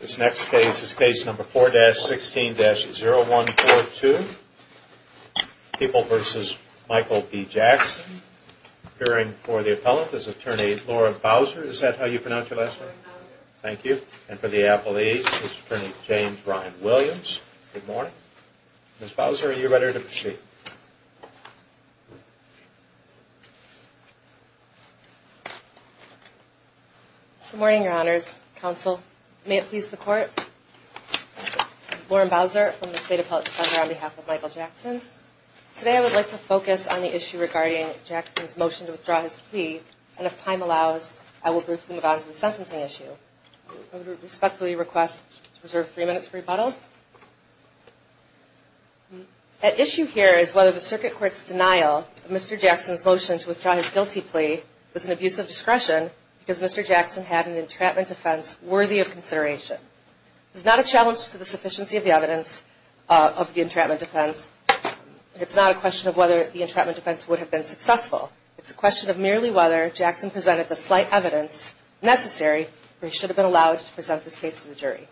This next case is case number 4-16-0142. People v. Michael B. Jackson. Appearing for the appellant is attorney Laura Bowser. Is that how you pronounce your last name? Laura Bowser. Thank you. And for the appellate is attorney James Ryan Williams. Good morning. Ms. Bowser, are you ready to proceed? Good morning, Your Honors. Counsel, may it please the Court. I'm Laura Bowser from the State Appellate Defender on behalf of Michael Jackson. Today I would like to focus on the issue regarding Jackson's motion to withdraw his plea, and if time allows, I will briefly move on to the sentencing issue. I respectfully request to reserve three minutes for rebuttal. At issue here is whether the Circuit Court's denial of Mr. Jackson's motion to withdraw his guilty plea was an abuse of discretion because Mr. Jackson had an entrapment defense worthy of consideration. This is not a challenge to the sufficiency of the evidence of the entrapment defense. It's not a question of whether the entrapment defense would have been successful. It's a question of merely whether Jackson presented the slight evidence necessary or he should have been allowed to present this case to the jury.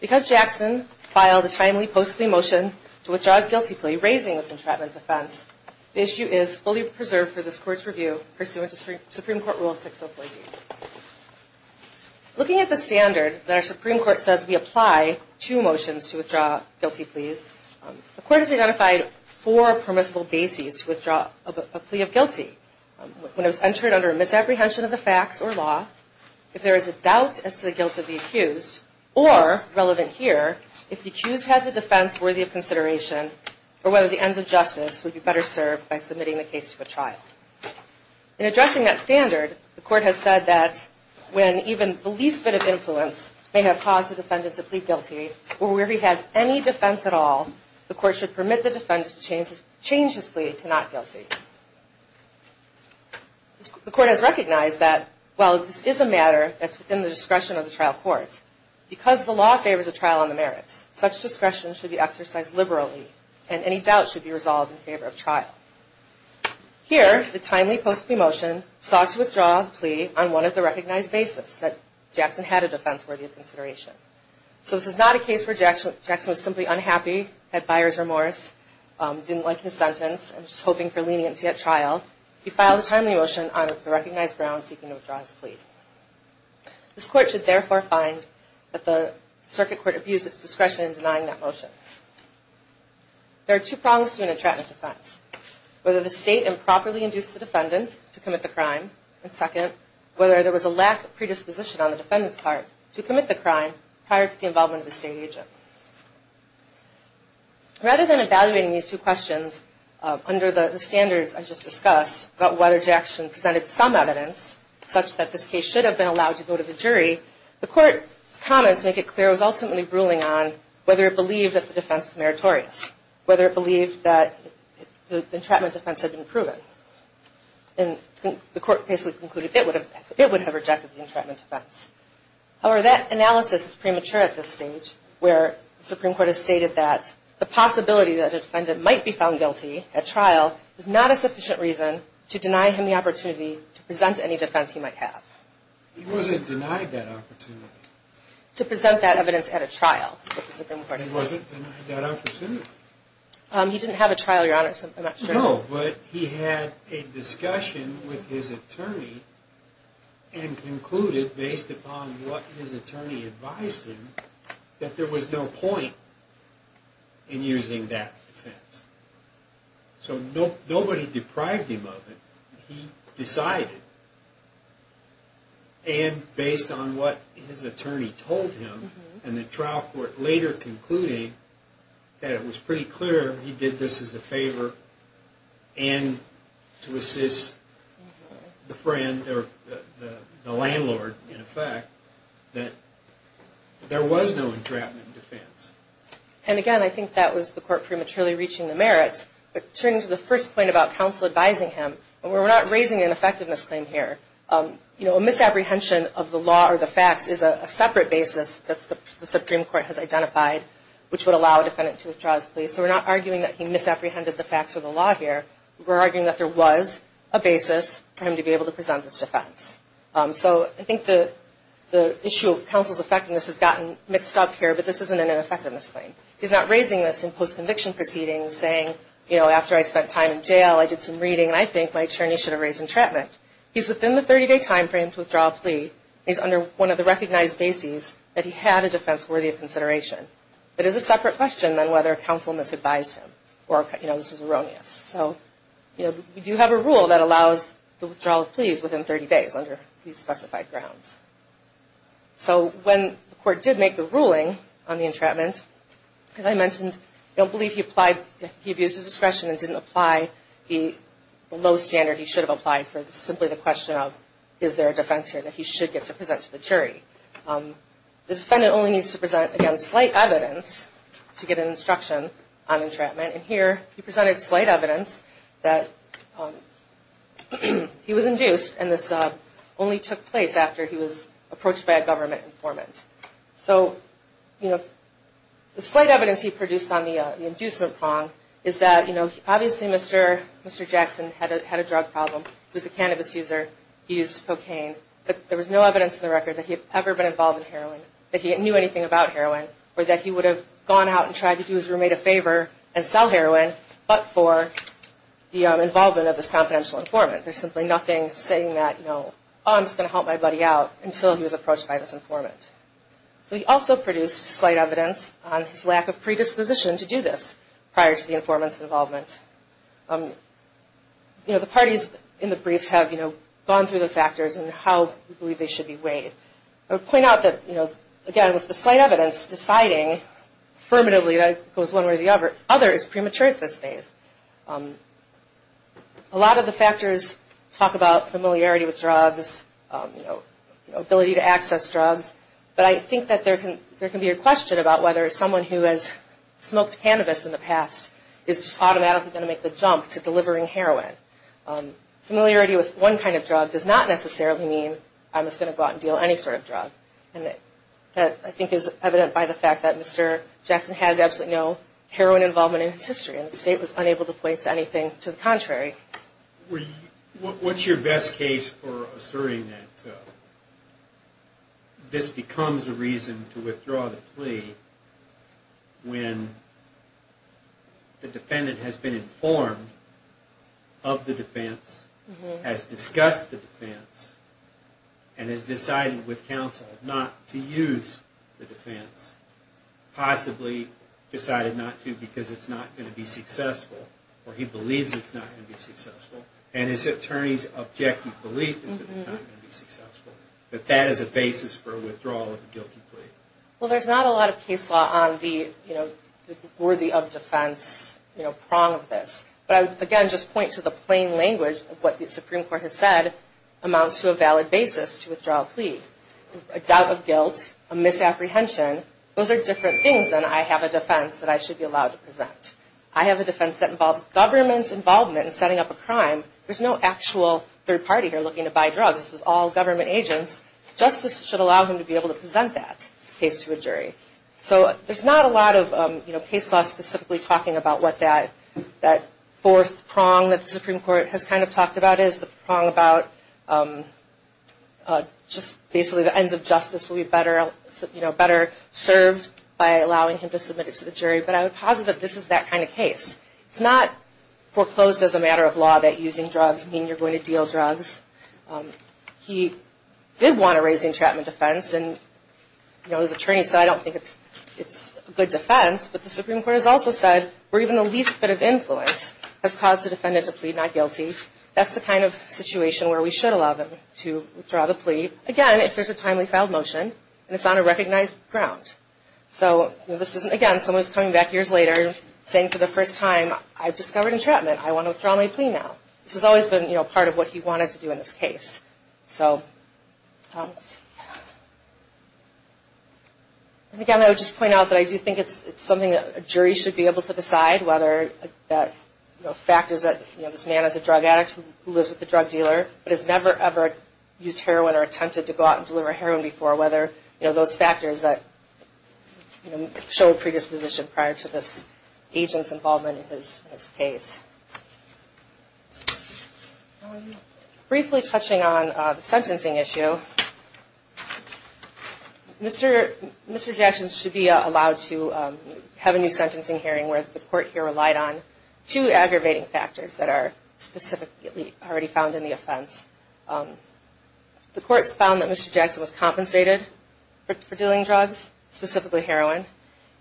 Because Jackson filed a timely post-plea motion to withdraw his guilty plea, raising this entrapment defense, the issue is fully preserved for this Court's review pursuant to Supreme Court Rule 604D. Looking at the standard that our Supreme Court says we apply to motions to withdraw guilty pleas, the Court has identified four permissible bases to withdraw a plea of guilty. When it was entered under a misapprehension of the facts or law, if there is a doubt as to the guilt of the accused, or, relevant here, if the accused has a defense worthy of consideration, or whether the ends of justice would be better served by submitting the case to a trial. In addressing that standard, the Court has said that when even the least bit of influence may have caused the defendant to plead guilty, or where he has any defense at all, the Court should permit the defendant to change his plea to not guilty. The Court has recognized that while this is a matter that's within the discretion of the trial court, because the law favors a trial on the merits, such discretion should be exercised liberally, and any doubt should be resolved in favor of trial. Here, the timely post-plea motion sought to withdraw the plea on one of the recognized bases that Jackson had a defense worthy of consideration. So this is not a case where Jackson was simply unhappy, had buyer's remorse, didn't like his sentence, and was just hoping for leniency at trial. He filed a timely motion on the recognized grounds seeking to withdraw his plea. This Court should therefore find that the Circuit Court abused its discretion in denying that motion. There are two problems to an entrapment defense. Whether the State improperly induced the defendant to commit the crime, and second, whether there was a lack of predisposition on the defendant's part to commit the crime prior to the involvement of the State agent. Rather than evaluating these two questions under the standards I just discussed, about whether Jackson presented some evidence such that this case should have been allowed to go to the jury, the Court's comments make it clear it was ultimately ruling on whether it believed that the defense was meritorious, whether it believed that the entrapment defense had been proven. And the Court basically concluded it would have rejected the entrapment defense. However, that analysis is premature at this stage, where the Supreme Court has stated that the possibility that a defendant might be found guilty at trial is not a sufficient reason to deny him the opportunity to present any defense he might have. He wasn't denied that opportunity. To present that evidence at a trial, is what the Supreme Court said. He wasn't denied that opportunity. He didn't have a trial, Your Honor, so I'm not sure. No, but he had a discussion with his attorney and concluded, based upon what his attorney advised him, that there was no point in using that defense. So nobody deprived him of it. He decided. And based on what his attorney told him, and the trial court later concluding that it was pretty clear he did this as a favor and to assist the friend, or the landlord, in effect, that there was no entrapment defense. And again, I think that was the Court prematurely reaching the merits. But turning to the first point about counsel advising him, we're not raising an effectiveness claim here. You know, a misapprehension of the law or the facts is a separate basis that the Supreme Court has identified, which would allow a defendant to withdraw his plea. So we're not arguing that he misapprehended the facts or the law here. We're arguing that there was a basis for him to be able to present his defense. So I think the issue of counsel's effectiveness has gotten mixed up here, but this isn't an ineffectiveness claim. He's not raising this in post-conviction proceedings, saying, you know, after I spent time in jail, I did some reading, and I think my attorney should have raised entrapment. He's within the 30-day timeframe to withdraw a plea. He's under one of the recognized bases that he had a defense worthy of consideration. But it's a separate question than whether counsel misadvised him or, you know, this was erroneous. So, you know, we do have a rule that allows the withdrawal of pleas within 30 days under these specified grounds. So when the court did make the ruling on the entrapment, as I mentioned, I don't believe he abused his discretion and didn't apply the low standard he should have applied for. It's simply the question of, is there a defense here that he should get to present to the jury? The defendant only needs to present against slight evidence to get an instruction on entrapment. And here he presented slight evidence that he was induced, and this only took place after he was approached by a government informant. So, you know, the slight evidence he produced on the inducement prong is that, you know, obviously Mr. Jackson had a drug problem. He was a cannabis user. He used cocaine. But there was no evidence in the record that he had ever been involved in heroin, that he knew anything about heroin, or that he would have gone out and tried to do his roommate a favor and sell heroin, but for the involvement of this confidential informant. There's simply nothing saying that, you know, oh, I'm just going to help my buddy out until he was approached by this informant. So he also produced slight evidence on his lack of predisposition to do this prior to the informant's involvement. You know, the parties in the briefs have, you know, gone through the factors and how we believe they should be weighed. I would point out that, you know, again, with the slight evidence deciding affirmatively that it goes one way or the other, other is premature at this phase. A lot of the factors talk about familiarity with drugs, you know, ability to access drugs, but I think that there can be a question about whether someone who has smoked cannabis in the past is automatically going to make the jump to delivering heroin. Familiarity with one kind of drug does not necessarily mean I'm just going to go out and deal with any sort of drug, and that I think is evident by the fact that Mr. Jackson has absolutely no heroin involvement in his history, and the State was unable to point to anything to the contrary. What's your best case for asserting that this becomes a reason to withdraw the plea when the defendant has been informed of the defense, has discussed the defense, and has decided with counsel not to use the defense, possibly decided not to because it's not going to be successful, or he believes it's not going to be successful, and his attorney's objective belief is that it's not going to be successful, that that is a basis for withdrawal of a guilty plea? Well, there's not a lot of case law on the, you know, worthy of defense, you know, prong of this, but I would, again, just point to the plain language of what the Supreme Court has said amounts to a valid basis to withdraw a plea. A doubt of guilt, a misapprehension, those are different things than I have a defense that I should be allowed to present. I have a defense that involves government involvement in setting up a crime. There's no actual third party here looking to buy drugs. This is all government agents. Justice should allow him to be able to present that case to a jury. So there's not a lot of, you know, case law specifically talking about what that fourth prong that the Supreme Court has kind of talked about is, the prong about just basically the ends of justice will be better, you know, better served by allowing him to submit it to the jury, but I would posit that this is that kind of case. It's not foreclosed as a matter of law that using drugs mean you're going to deal drugs. He did want to raise the entrapment defense, and, you know, his attorney said I don't think it's a good defense, but the Supreme Court has also said where even the least bit of influence has caused the defendant to plead not guilty. That's the kind of situation where we should allow them to withdraw the plea. Again, if there's a timely filed motion and it's on a recognized ground. So this isn't, again, someone's coming back years later saying for the first time I've discovered entrapment. I want to withdraw my plea now. This has always been, you know, part of what he wanted to do in this case. So again, I would just point out that I do think it's something that a jury should be able to decide whether that, you know, those factors that, you know, this man is a drug addict who lives with a drug dealer but has never ever used heroin or attempted to go out and deliver heroin before, whether, you know, those factors that, you know, show a predisposition prior to this agent's involvement in his case. Briefly touching on the sentencing issue, Mr. Jackson should be allowed to have a new sentencing hearing where the court here relied on two aggravating factors that are specifically already found in the offense. The courts found that Mr. Jackson was compensated for dealing drugs, specifically heroin,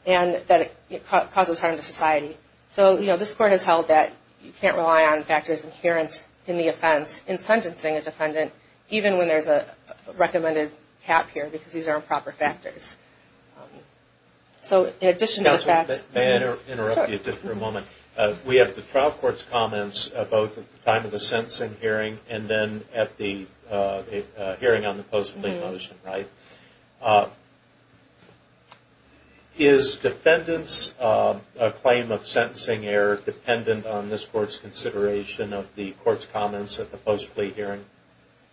and that it causes harm to society. So, you know, this court has held that you can't rely on factors inherent in the offense in sentencing a defendant even when there's a recommended cap here because these are improper factors. So in addition to the facts... May I interrupt you just for a moment? We have the trial court's comments both at the time of the sentencing hearing and then at the hearing on the post-plea motion, right? Is defendant's claim of sentencing error dependent on this court's consideration of the court's comments at the post-plea hearing?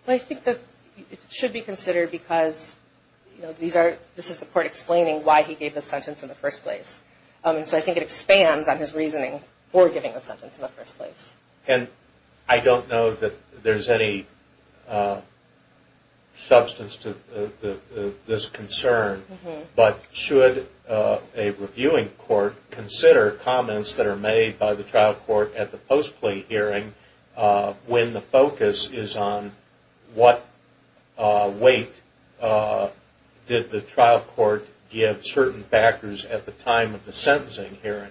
I think that it should be considered because, you know, this is the court explaining why he gave the sentence in the first place. So I think it expands on his reasoning for giving the sentence in the first place. And I don't know that there's any substance to this concern, but should a reviewing court consider comments that are made by the trial court at the post-plea hearing when the focus is on what weight did the trial court give certain factors at the time of the sentencing hearing?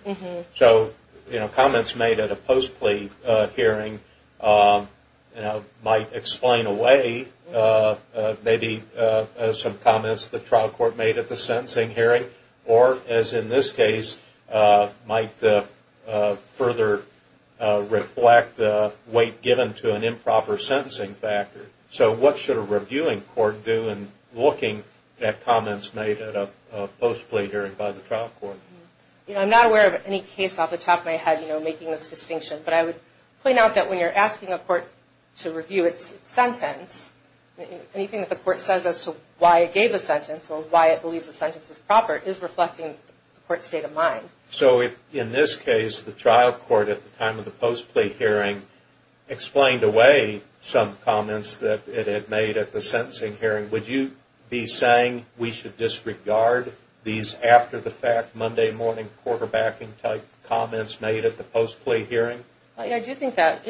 So, you know, comments made at a post-plea hearing might explain away maybe some comments the trial court made at the sentencing hearing or, as in this case, might further reflect weight given to an improper sentencing factor. So what should a reviewing court do in looking at comments made at a post-plea hearing by the trial court? You know, I'm not aware of any case off the top of my head, you know, making this distinction, but I would point out that when you're asking a court to review its sentence, anything that the court says as to why it gave a sentence or why it believes a sentence was proper is reflecting the court's state of mind. So if, in this case, the trial court at the time of the post-plea hearing explained away some comments that it had made at the sentencing hearing, would you be saying we should disregard these after-the-fact Monday morning quarterbacking type comments made at the post-plea hearing? Yeah, I do think that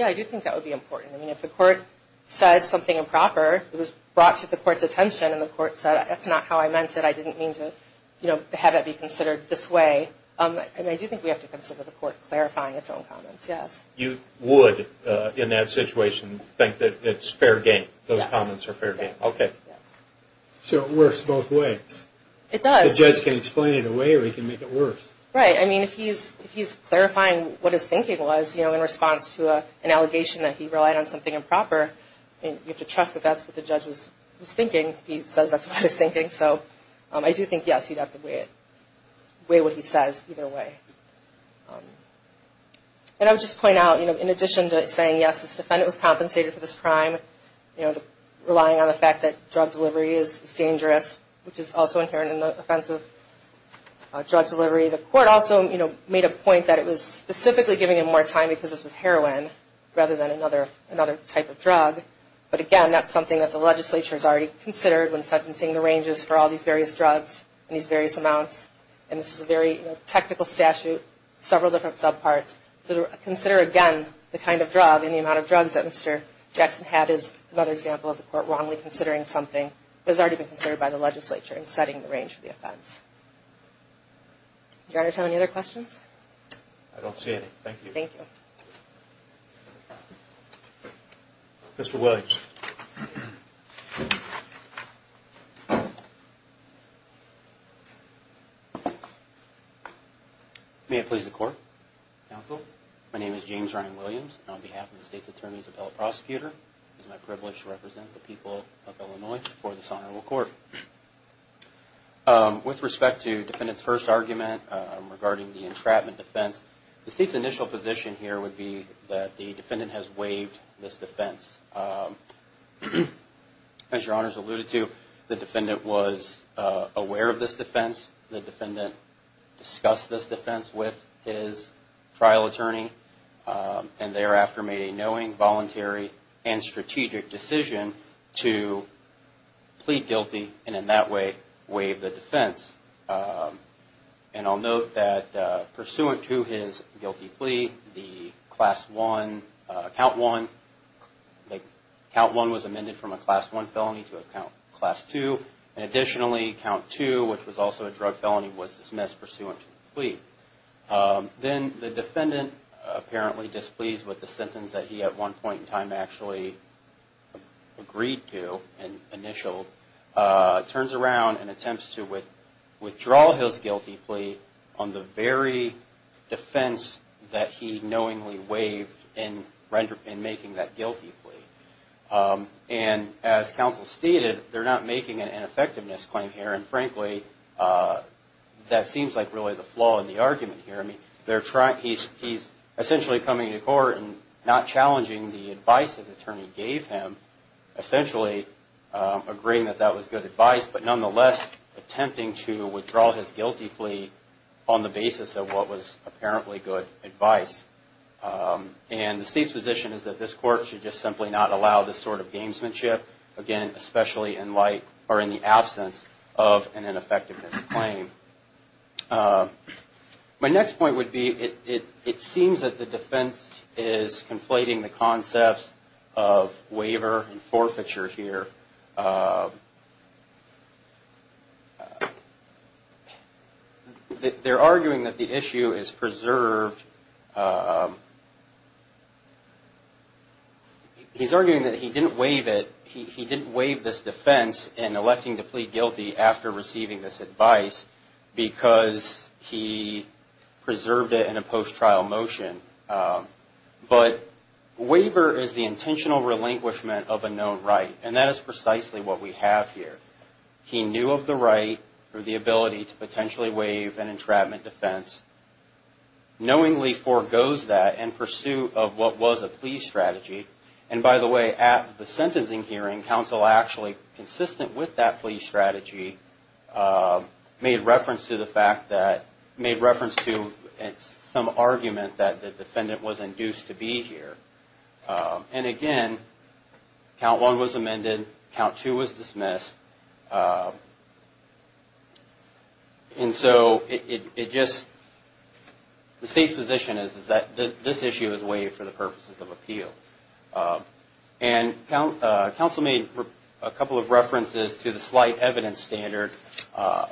would be important. I mean, if the court said something improper, it was brought to the court's attention, and the court said, that's not how I meant it, I didn't mean to have it be considered this way. And I do think we have to consider the court clarifying its own comments, yes. You would, in that situation, think that it's fair game, those comments are fair game? Yes. Okay. So it works both ways. It does. The judge can explain it away or he can make it worse. Right. I mean, if he's clarifying what his thinking was in response to an allegation that he relied on something improper, you have to trust that that's what the judge was thinking. He says that's what he was thinking. So I do think, yes, you'd have to weigh what he says either way. And I would just point out, in addition to saying, yes, this defendant was compensated for this crime, relying on the fact that drug delivery is dangerous, which is also inherent in the offense of drug delivery, the court also made a point that it was specifically giving him more time because this was heroin rather than another type of drug. But, again, that's something that the legislature has already considered when sentencing the ranges for all these various drugs and these various amounts. And this is a very technical statute, several different subparts. So to consider, again, the kind of drug and the amount of drugs that Mr. Jackson had is another example of the court wrongly considering something that has already been considered by the legislature in setting the range for the offense. Did you want to tell me any other questions? I don't see any. Thank you. Thank you. Mr. Williams. May it please the Court, Counsel. My name is James Ryan Williams, and on behalf of the State's Attorneys Appellate Prosecutor, it is my privilege to represent the people of Illinois for this Honorable Court. With respect to the defendant's first argument regarding the entrapment defense, the State's initial position here would be that the defendant has waived this defense. As Your Honors alluded to, the defendant was aware of this defense. The defendant discussed this defense with his trial attorney and thereafter made a knowing, voluntary, and strategic decision to plead guilty and in that way waive the defense. And I'll note that pursuant to his guilty plea, the Class 1, Count 1, Count 1 was amended from a Class 1 felony to a Class 2. Additionally, Count 2, which was also a drug felony, was dismissed pursuant to the plea. Then the defendant, apparently displeased with the sentence that he, at one point in time, actually agreed to and initialed, turns around and attempts to withdraw his guilty plea on the very defense that he knowingly waived in making that guilty plea. And as Counsel stated, they're not making an ineffectiveness claim here, and frankly, that seems like really the flaw in the argument here. He's essentially coming to court and not challenging the advice his attorney gave him, essentially agreeing that that was good advice, but nonetheless attempting to withdraw his guilty plea on the basis of what was apparently good advice. And the State's position is that this Court should just simply not allow this sort of gamesmanship, again, especially in the absence of an ineffectiveness claim. My next point would be, it seems that the defense is conflating the concepts of waiver and forfeiture here. They're arguing that the issue is preserved. He's arguing that he didn't waive this defense in electing to plead guilty after receiving this advice because he preserved it in a post-trial motion. But waiver is the intentional relinquishment of a known right, and that is precisely what we have here. He knew of the right or the ability to potentially waive an entrapment defense, knowingly forgoes that in pursuit of what was a plea strategy. And by the way, at the sentencing hearing, counsel actually, consistent with that plea strategy, made reference to some argument that the defendant was induced to be here. And again, Count 1 was amended, Count 2 was dismissed, and so the State's position is that this issue is waived for the purposes of appeal. And counsel made a couple of references to the slight evidence standard.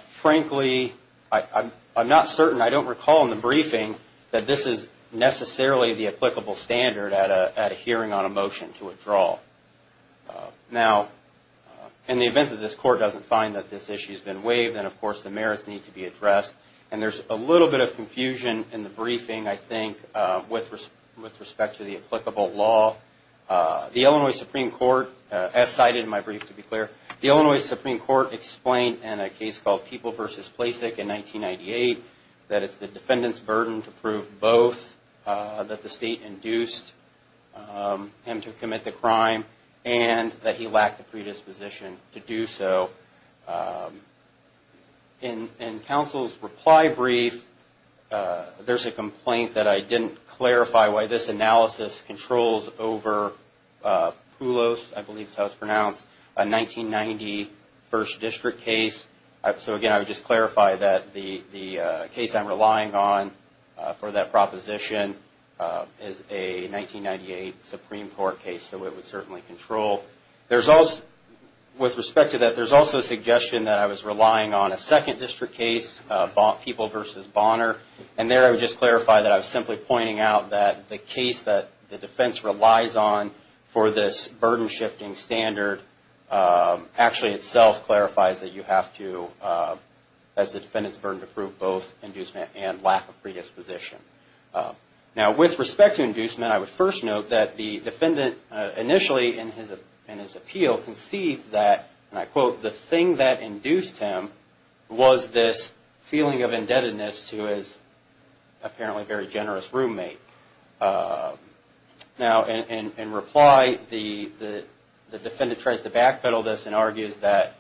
Frankly, I'm not certain, I don't recall in the briefing that this is necessarily the applicable standard at a hearing on a motion to withdraw. Now, in the event that this Court doesn't find that this issue has been waived, then of course the merits need to be addressed. And there's a little bit of confusion in the briefing, I think, with respect to the applicable law. The Illinois Supreme Court, as cited in my brief, to be clear, the Illinois Supreme Court explained in a case called People v. Placek in 1998 that it's the defendant's burden to prove both, that the State induced him to commit the crime, and that he lacked the predisposition to do so. In counsel's reply brief, there's a complaint that I didn't clarify why this analysis controls over Poulos, I believe that's how it's pronounced, a 1990 First District case. So again, I would just clarify that the case I'm relying on for that proposition is a 1998 Supreme Court case, so it would certainly control. With respect to that, there's also a suggestion that I was relying on a Second District case, People v. Bonner, and there I would just clarify that I was simply pointing out that the case that the defense relies on for this burden-shifting standard actually itself clarifies that you have to, as the defendant's burden, to prove both inducement and lack of predisposition. Now, with respect to inducement, I would first note that the defendant initially in his appeal concedes that, and I quote, the thing that induced him was this feeling of indebtedness to his apparently very generous roommate. Now, in reply, the defendant tries to backpedal this and argues that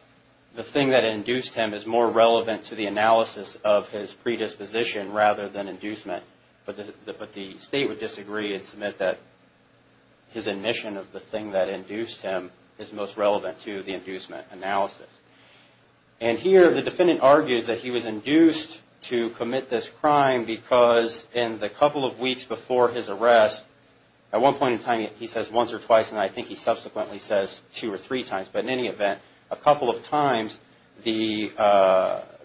the thing that induced him is more relevant to the analysis of his predisposition rather than inducement, but the State would disagree and submit that his admission of the thing that induced him is most relevant to the inducement analysis. And here, the defendant argues that he was induced to commit this crime because in the couple of weeks before his arrest, at one point in time he says once or twice, and I think he subsequently says two or three times, but in any event, a couple of times, the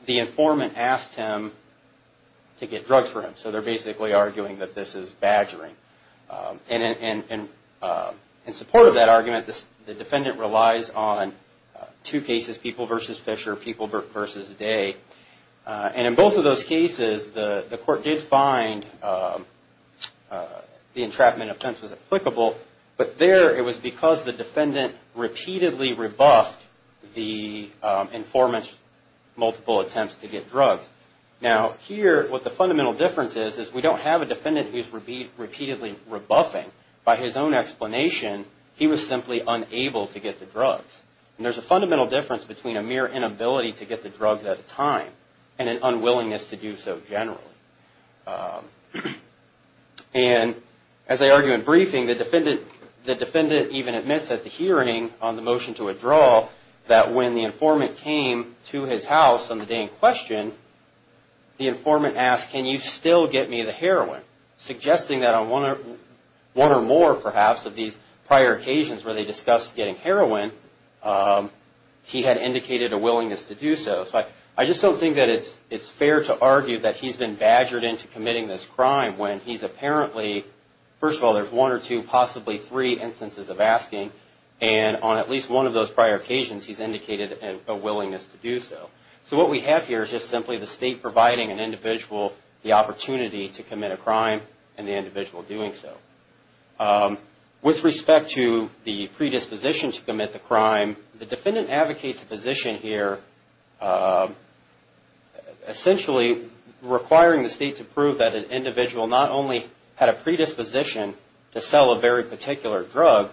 informant asked him to get drugs for him. So they're basically arguing that this is badgering. And in support of that argument, the defendant relies on two cases, People v. Fisher, People v. Day, and in both of those cases, the court did find the entrapment offense was applicable, but there it was because the defendant repeatedly rebuffed the informant's multiple attempts to get drugs. Now, here, what the fundamental difference is, is we don't have a defendant who's repeatedly rebuffing. By his own explanation, he was simply unable to get the drugs. And there's a fundamental difference between a mere inability to get the drugs at a time and an unwillingness to do so generally. And as I argue in briefing, the defendant even admits at the hearing on the motion to withdraw that when the informant came to his house on the day in question, the informant asked, can you still get me the heroin? Suggesting that on one or more, perhaps, of these prior occasions where they discussed getting heroin, he had indicated a willingness to do so. So I just don't think that it's fair to argue that he's been badgered into committing this crime when he's apparently, first of all, there's one or two, possibly three instances of asking, and on at least one of those prior occasions, he's indicated a willingness to do so. So what we have here is just simply the State providing an individual the opportunity to commit a crime and the individual doing so. With respect to the predisposition to commit the crime, the defendant advocates a position here, essentially requiring the State to prove that an individual not only had a predisposition to sell a very particular drug,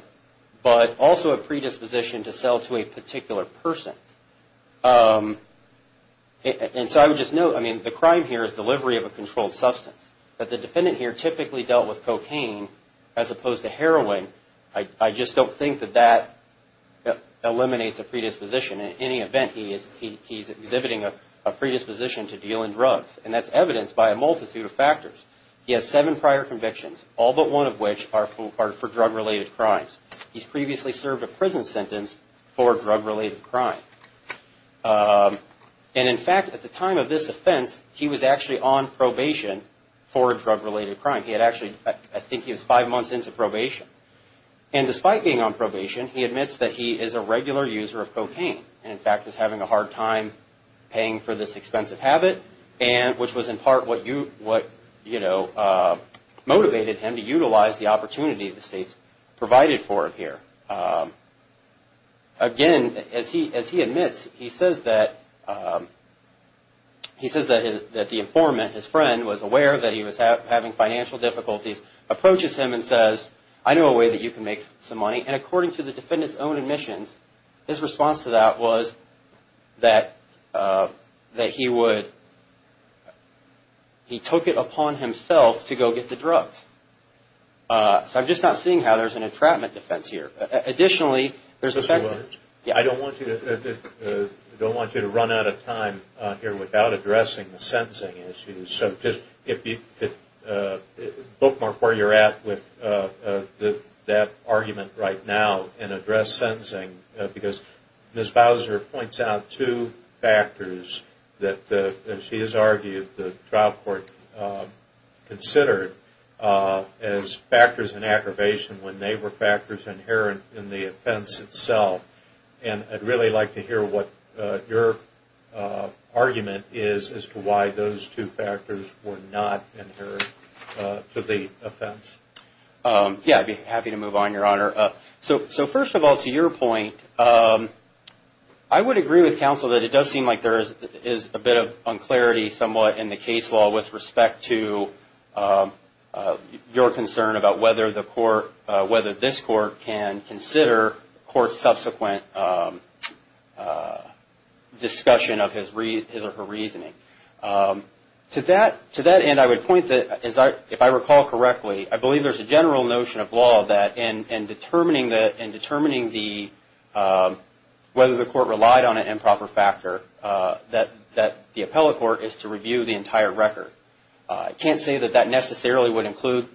but also a predisposition to sell to a particular person. And so I would just note, I mean, the crime here is delivery of a controlled substance, but the defendant here typically dealt with cocaine as opposed to heroin. I just don't think that that eliminates a predisposition. In any event, he's exhibiting a predisposition to deal in drugs, and that's evidenced by a multitude of factors. He has seven prior convictions, all but one of which are for drug-related crimes. He's previously served a prison sentence for a drug-related crime. And in fact, at the time of this offense, he was actually on probation for a drug-related crime. He had actually, I think he was five months into probation. And despite being on probation, he admits that he is a regular user of cocaine, and in fact, was having a hard time paying for this expensive habit, which was in part what, you know, motivated him to utilize the opportunity the states provided for him here. Again, as he admits, he says that the informant, his friend, was aware that he was having financial difficulties, approaches him and says, I know a way that you can make some money. And according to the defendant's own admissions, his response to that was that he would, he took it upon himself to go get the drugs. So I'm just not seeing how there's an entrapment defense here. Additionally, there's a second. I don't want you to run out of time here without addressing the sentencing issues. So just bookmark where you're at with that argument right now and address sentencing, because Ms. Bowser points out two factors that, as she has argued, the trial court considered as factors in aggravation when they were factors inherent in the offense itself. And I'd really like to hear what your argument is as to why those two factors were not inherent to the offense. Yeah, I'd be happy to move on, Your Honor. So first of all, to your point, I would agree with counsel that it does seem like there is a bit of unclarity somewhat in the case law with respect to your concern about whether the court, whether this court can consider court's subsequent discussion of his or her reasoning. To that end, I would point that, if I recall correctly, I believe there's a general notion of law that in determining the, whether the court relied on an improper factor, that the appellate court is to review the entire record. I can't say that that necessarily would include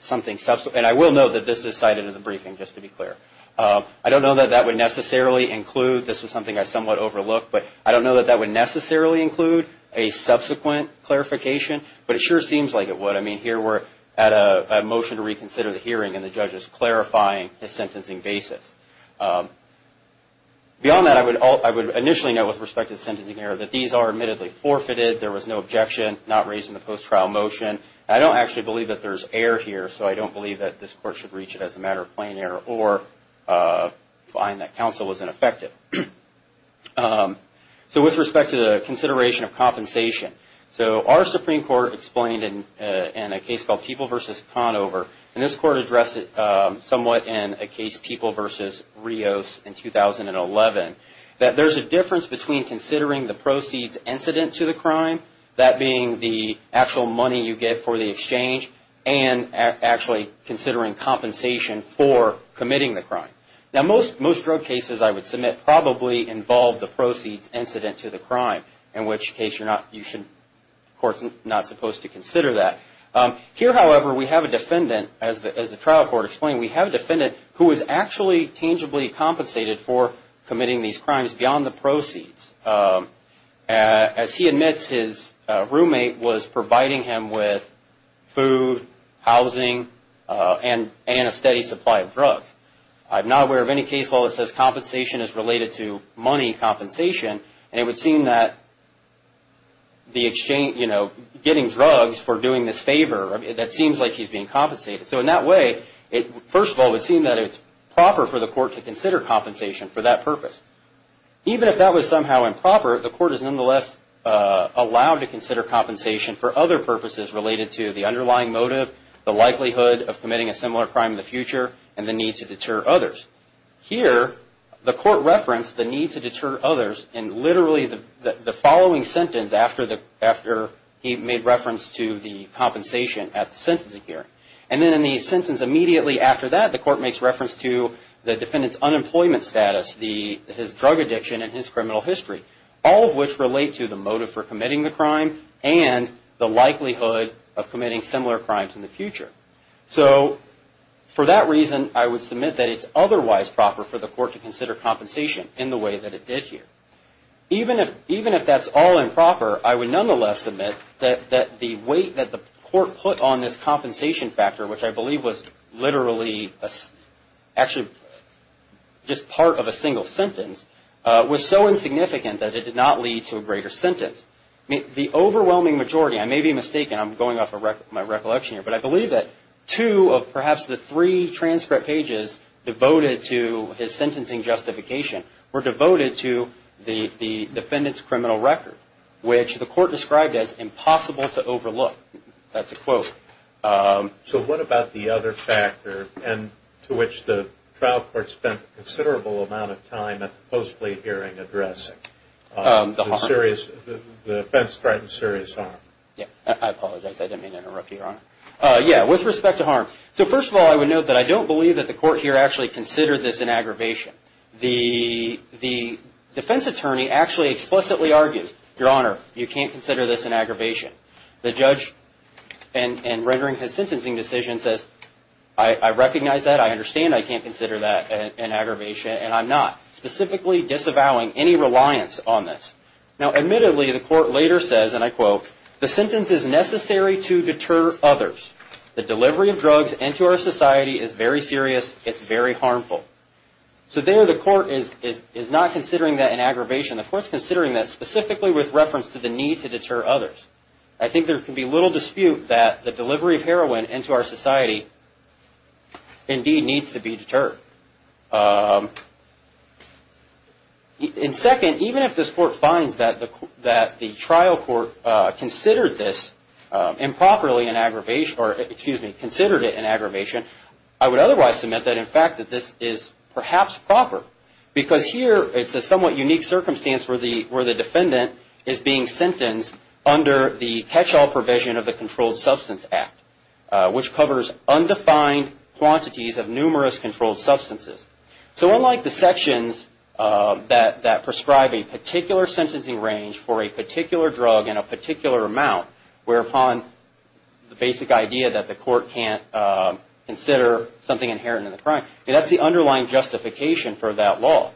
something subsequent. And I will note that this is cited in the briefing, just to be clear. I don't know that that would necessarily include, this is something I somewhat overlooked, but I don't know that that would necessarily include a subsequent clarification. But it sure seems like it would. I mean, here we're at a motion to reconsider the hearing and the judge is clarifying his sentencing basis. Beyond that, I would initially note with respect to the sentencing error that these are admittedly forfeited. There was no objection, not raised in the post-trial motion. I don't actually believe that there's error here, so I don't believe that this court should reach it as a matter of plain error or find that counsel was ineffective. So, with respect to the consideration of compensation. So, our Supreme Court explained in a case called People v. Conover, and this court addressed it somewhat in a case, People v. Rios in 2011, that there's a difference between considering the proceeds incident to the crime, that being the actual money you get for the exchange, and actually considering compensation for committing the crime. Now, most drug cases, I would submit, probably involve the proceeds incident to the crime, in which case the court's not supposed to consider that. Here, however, we have a defendant, as the trial court explained, we have a defendant who is actually tangibly compensated for committing these crimes beyond the proceeds. As he admits, his roommate was providing him with food, housing, and a steady supply of drugs. I'm not aware of any case law that says compensation is related to money compensation, and it would seem that getting drugs for doing this favor, that seems like he's being compensated. So, in that way, first of all, it would seem that it's proper for the court to consider compensation for that purpose. Even if that was somehow improper, the court is nonetheless allowed to consider compensation for other purposes related to the underlying motive, the likelihood of committing a similar crime in the future, and the need to deter others. Here, the court referenced the need to deter others in literally the following sentence after he made reference to the compensation at the sentencing hearing. And then in the sentence immediately after that, the court makes reference to the defendant's unemployment status, his drug addiction, and his criminal history, all of which relate to the motive for committing the crime, and the likelihood of committing similar crimes in the future. So, for that reason, I would submit that it's otherwise proper for the court to consider compensation in the way that it did here. Even if that's all improper, I would nonetheless submit that the weight that the court put on this compensation factor, which I believe was literally actually just part of a single sentence, was so insignificant that it did not lead to a greater sentence. The overwhelming majority, I may be mistaken, I'm going off my recollection here, but I believe that two of perhaps the three transcript pages devoted to his sentencing justification were devoted to the defendant's criminal record, which the court described as impossible to overlook. That's a quote. So what about the other factor to which the trial court spent a considerable amount of time at the post-plea hearing addressing? The offense threatened serious harm. With respect to harm, first of all, I would note that I don't believe that the court here actually considered this an aggravation. The defense attorney actually explicitly argued, Your Honor, you can't consider this an aggravation. The judge, in rendering his sentencing decision, says, I recognize that, I understand I can't consider that an aggravation, and I'm not. Specifically disavowing any reliance on this. Now, admittedly, the court later says, and I quote, the sentence is necessary to deter others. The delivery of drugs into our society is very serious. It's very harmful. So there the court is not considering that an aggravation. The court is considering that specifically with reference to the need to deter others. I think there can be little dispute that the delivery of heroin into our society indeed needs to be deterred. And second, even if this court finds that the trial court considered this improperly an aggravation, or excuse me, considered it an aggravation, I would otherwise submit that in fact that this is perhaps proper. Because here it's a somewhat unique circumstance where the defendant is being sentenced under the catch-all provision of the Controlled Substance Act, which covers undefined quantities of numerous controlled substances. So unlike the sections that prescribe a particular sentencing range for a particular drug in a particular amount, where upon the basic idea that the court can't consider something inherent in the crime, that's the underlying justification for that law.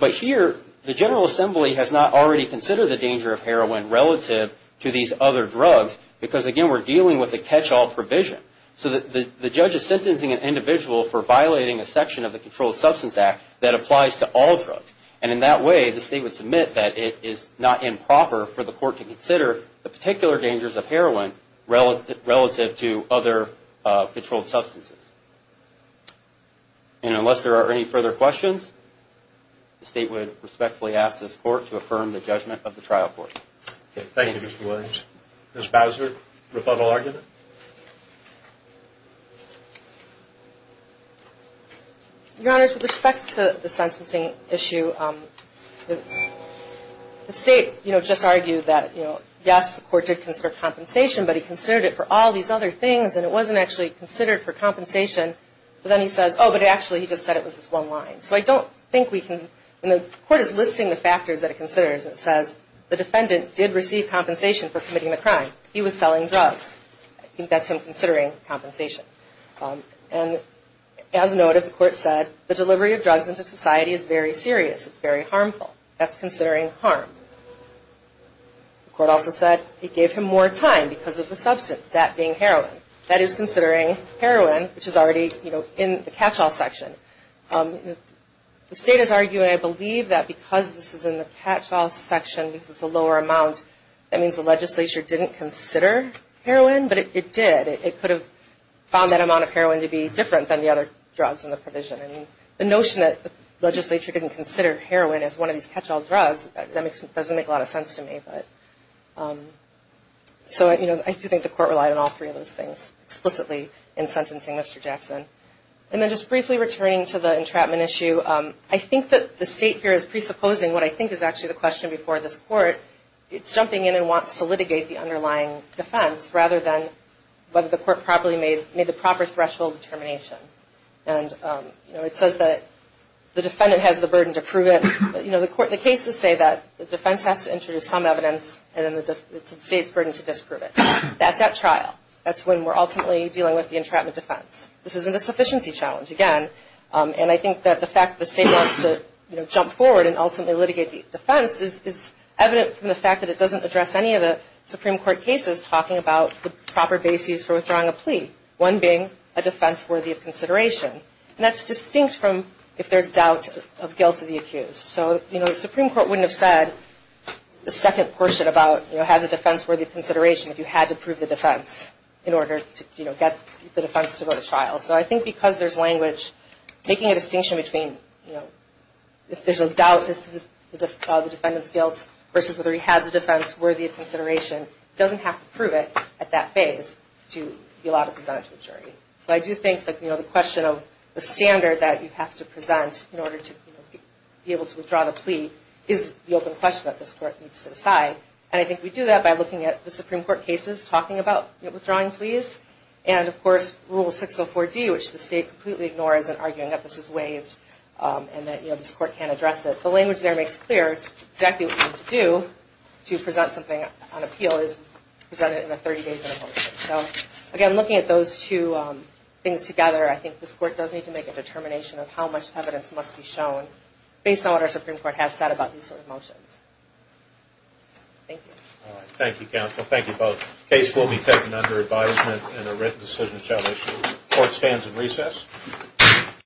But here the General Assembly has not already considered the danger of heroin relative to these other drugs, because again we're dealing with a catch-all provision. So the judge is sentencing an individual for violating a section of the Controlled Substance Act that applies to all drugs. And in that way the state would submit that it is not improper for the court to consider the particular dangers of heroin relative to other controlled substances. And unless there are any further questions, the state would respectfully ask this court to affirm the judgment of the trial court. Thank you, Mr. Williams. Ms. Bowser, rebuttal argument? Your Honor, with respect to the sentencing issue, the state just argued that yes, the court did consider compensation, but he considered it for all these other things, and it wasn't actually considered for compensation. But then he says, oh, but actually he just said it was this one line. The court is listing the factors that it considers, and it says the defendant did receive compensation for committing the crime. He was selling drugs. I think that's him considering compensation. And as noted, the court said the delivery of drugs into society is very serious. It's very harmful. That's considering harm. The court also said it gave him more time because of the substance, that being heroin. That is considering heroin, which is already in the catch-all section. The state is arguing, I believe, that because this is in the catch-all section, because it's a lower amount, that means the legislature didn't consider heroin, but it did. It could have found that amount of heroin to be different than the other drugs in the provision. The notion that the legislature didn't consider heroin as one of these catch-all drugs, that doesn't make a lot of sense to me. I do think the court relied on all three of those things explicitly in sentencing Mr. Jackson. And then just briefly returning to the entrapment issue, I think that the state here is presupposing what I think is actually the question before this court. It's jumping in and wants to litigate the underlying defense rather than whether the court properly made the proper threshold determination. And it says that the defendant has the burden to prove it. The cases say that the defense has to introduce some evidence, and then it's the state's burden to disprove it. That's at trial. That's when we're ultimately dealing with the entrapment defense. This isn't a sufficiency challenge, again. And I think that the fact that the state wants to jump forward and ultimately litigate the defense is evident from the fact that it doesn't address any of the Supreme Court cases talking about the proper basis for withdrawing a plea, one being a defense worthy of consideration. And that's distinct from if there's doubt of guilt of the accused. So the Supreme Court wouldn't have said the second portion about has a defense worthy of consideration if you had to prove the defense in order to get the defense to go to trial. So I think because there's language, making a distinction between if there's a doubt as to the defendant's guilt versus whether he has a defense worthy of consideration doesn't have to prove it at that phase to be allowed to present it to a jury. So I do think that the question of the standard that you have to present in order to be able to withdraw the plea is the open question that this Court needs to set aside. And I think we do that by looking at the Supreme Court cases talking about withdrawing pleas and, of course, Rule 604D, which the State completely ignores in arguing that this is waived and that this Court can't address it. The language there makes clear exactly what you need to do to present something on appeal is present it in a 30-day sentencing. So again, looking at those two things together, I think this Court does need to make a determination of how much evidence must be shown based on what our Supreme Court has said about these sort of motions. Thank you. Thank you both. The case will be taken under advisement and a written decision shall issue.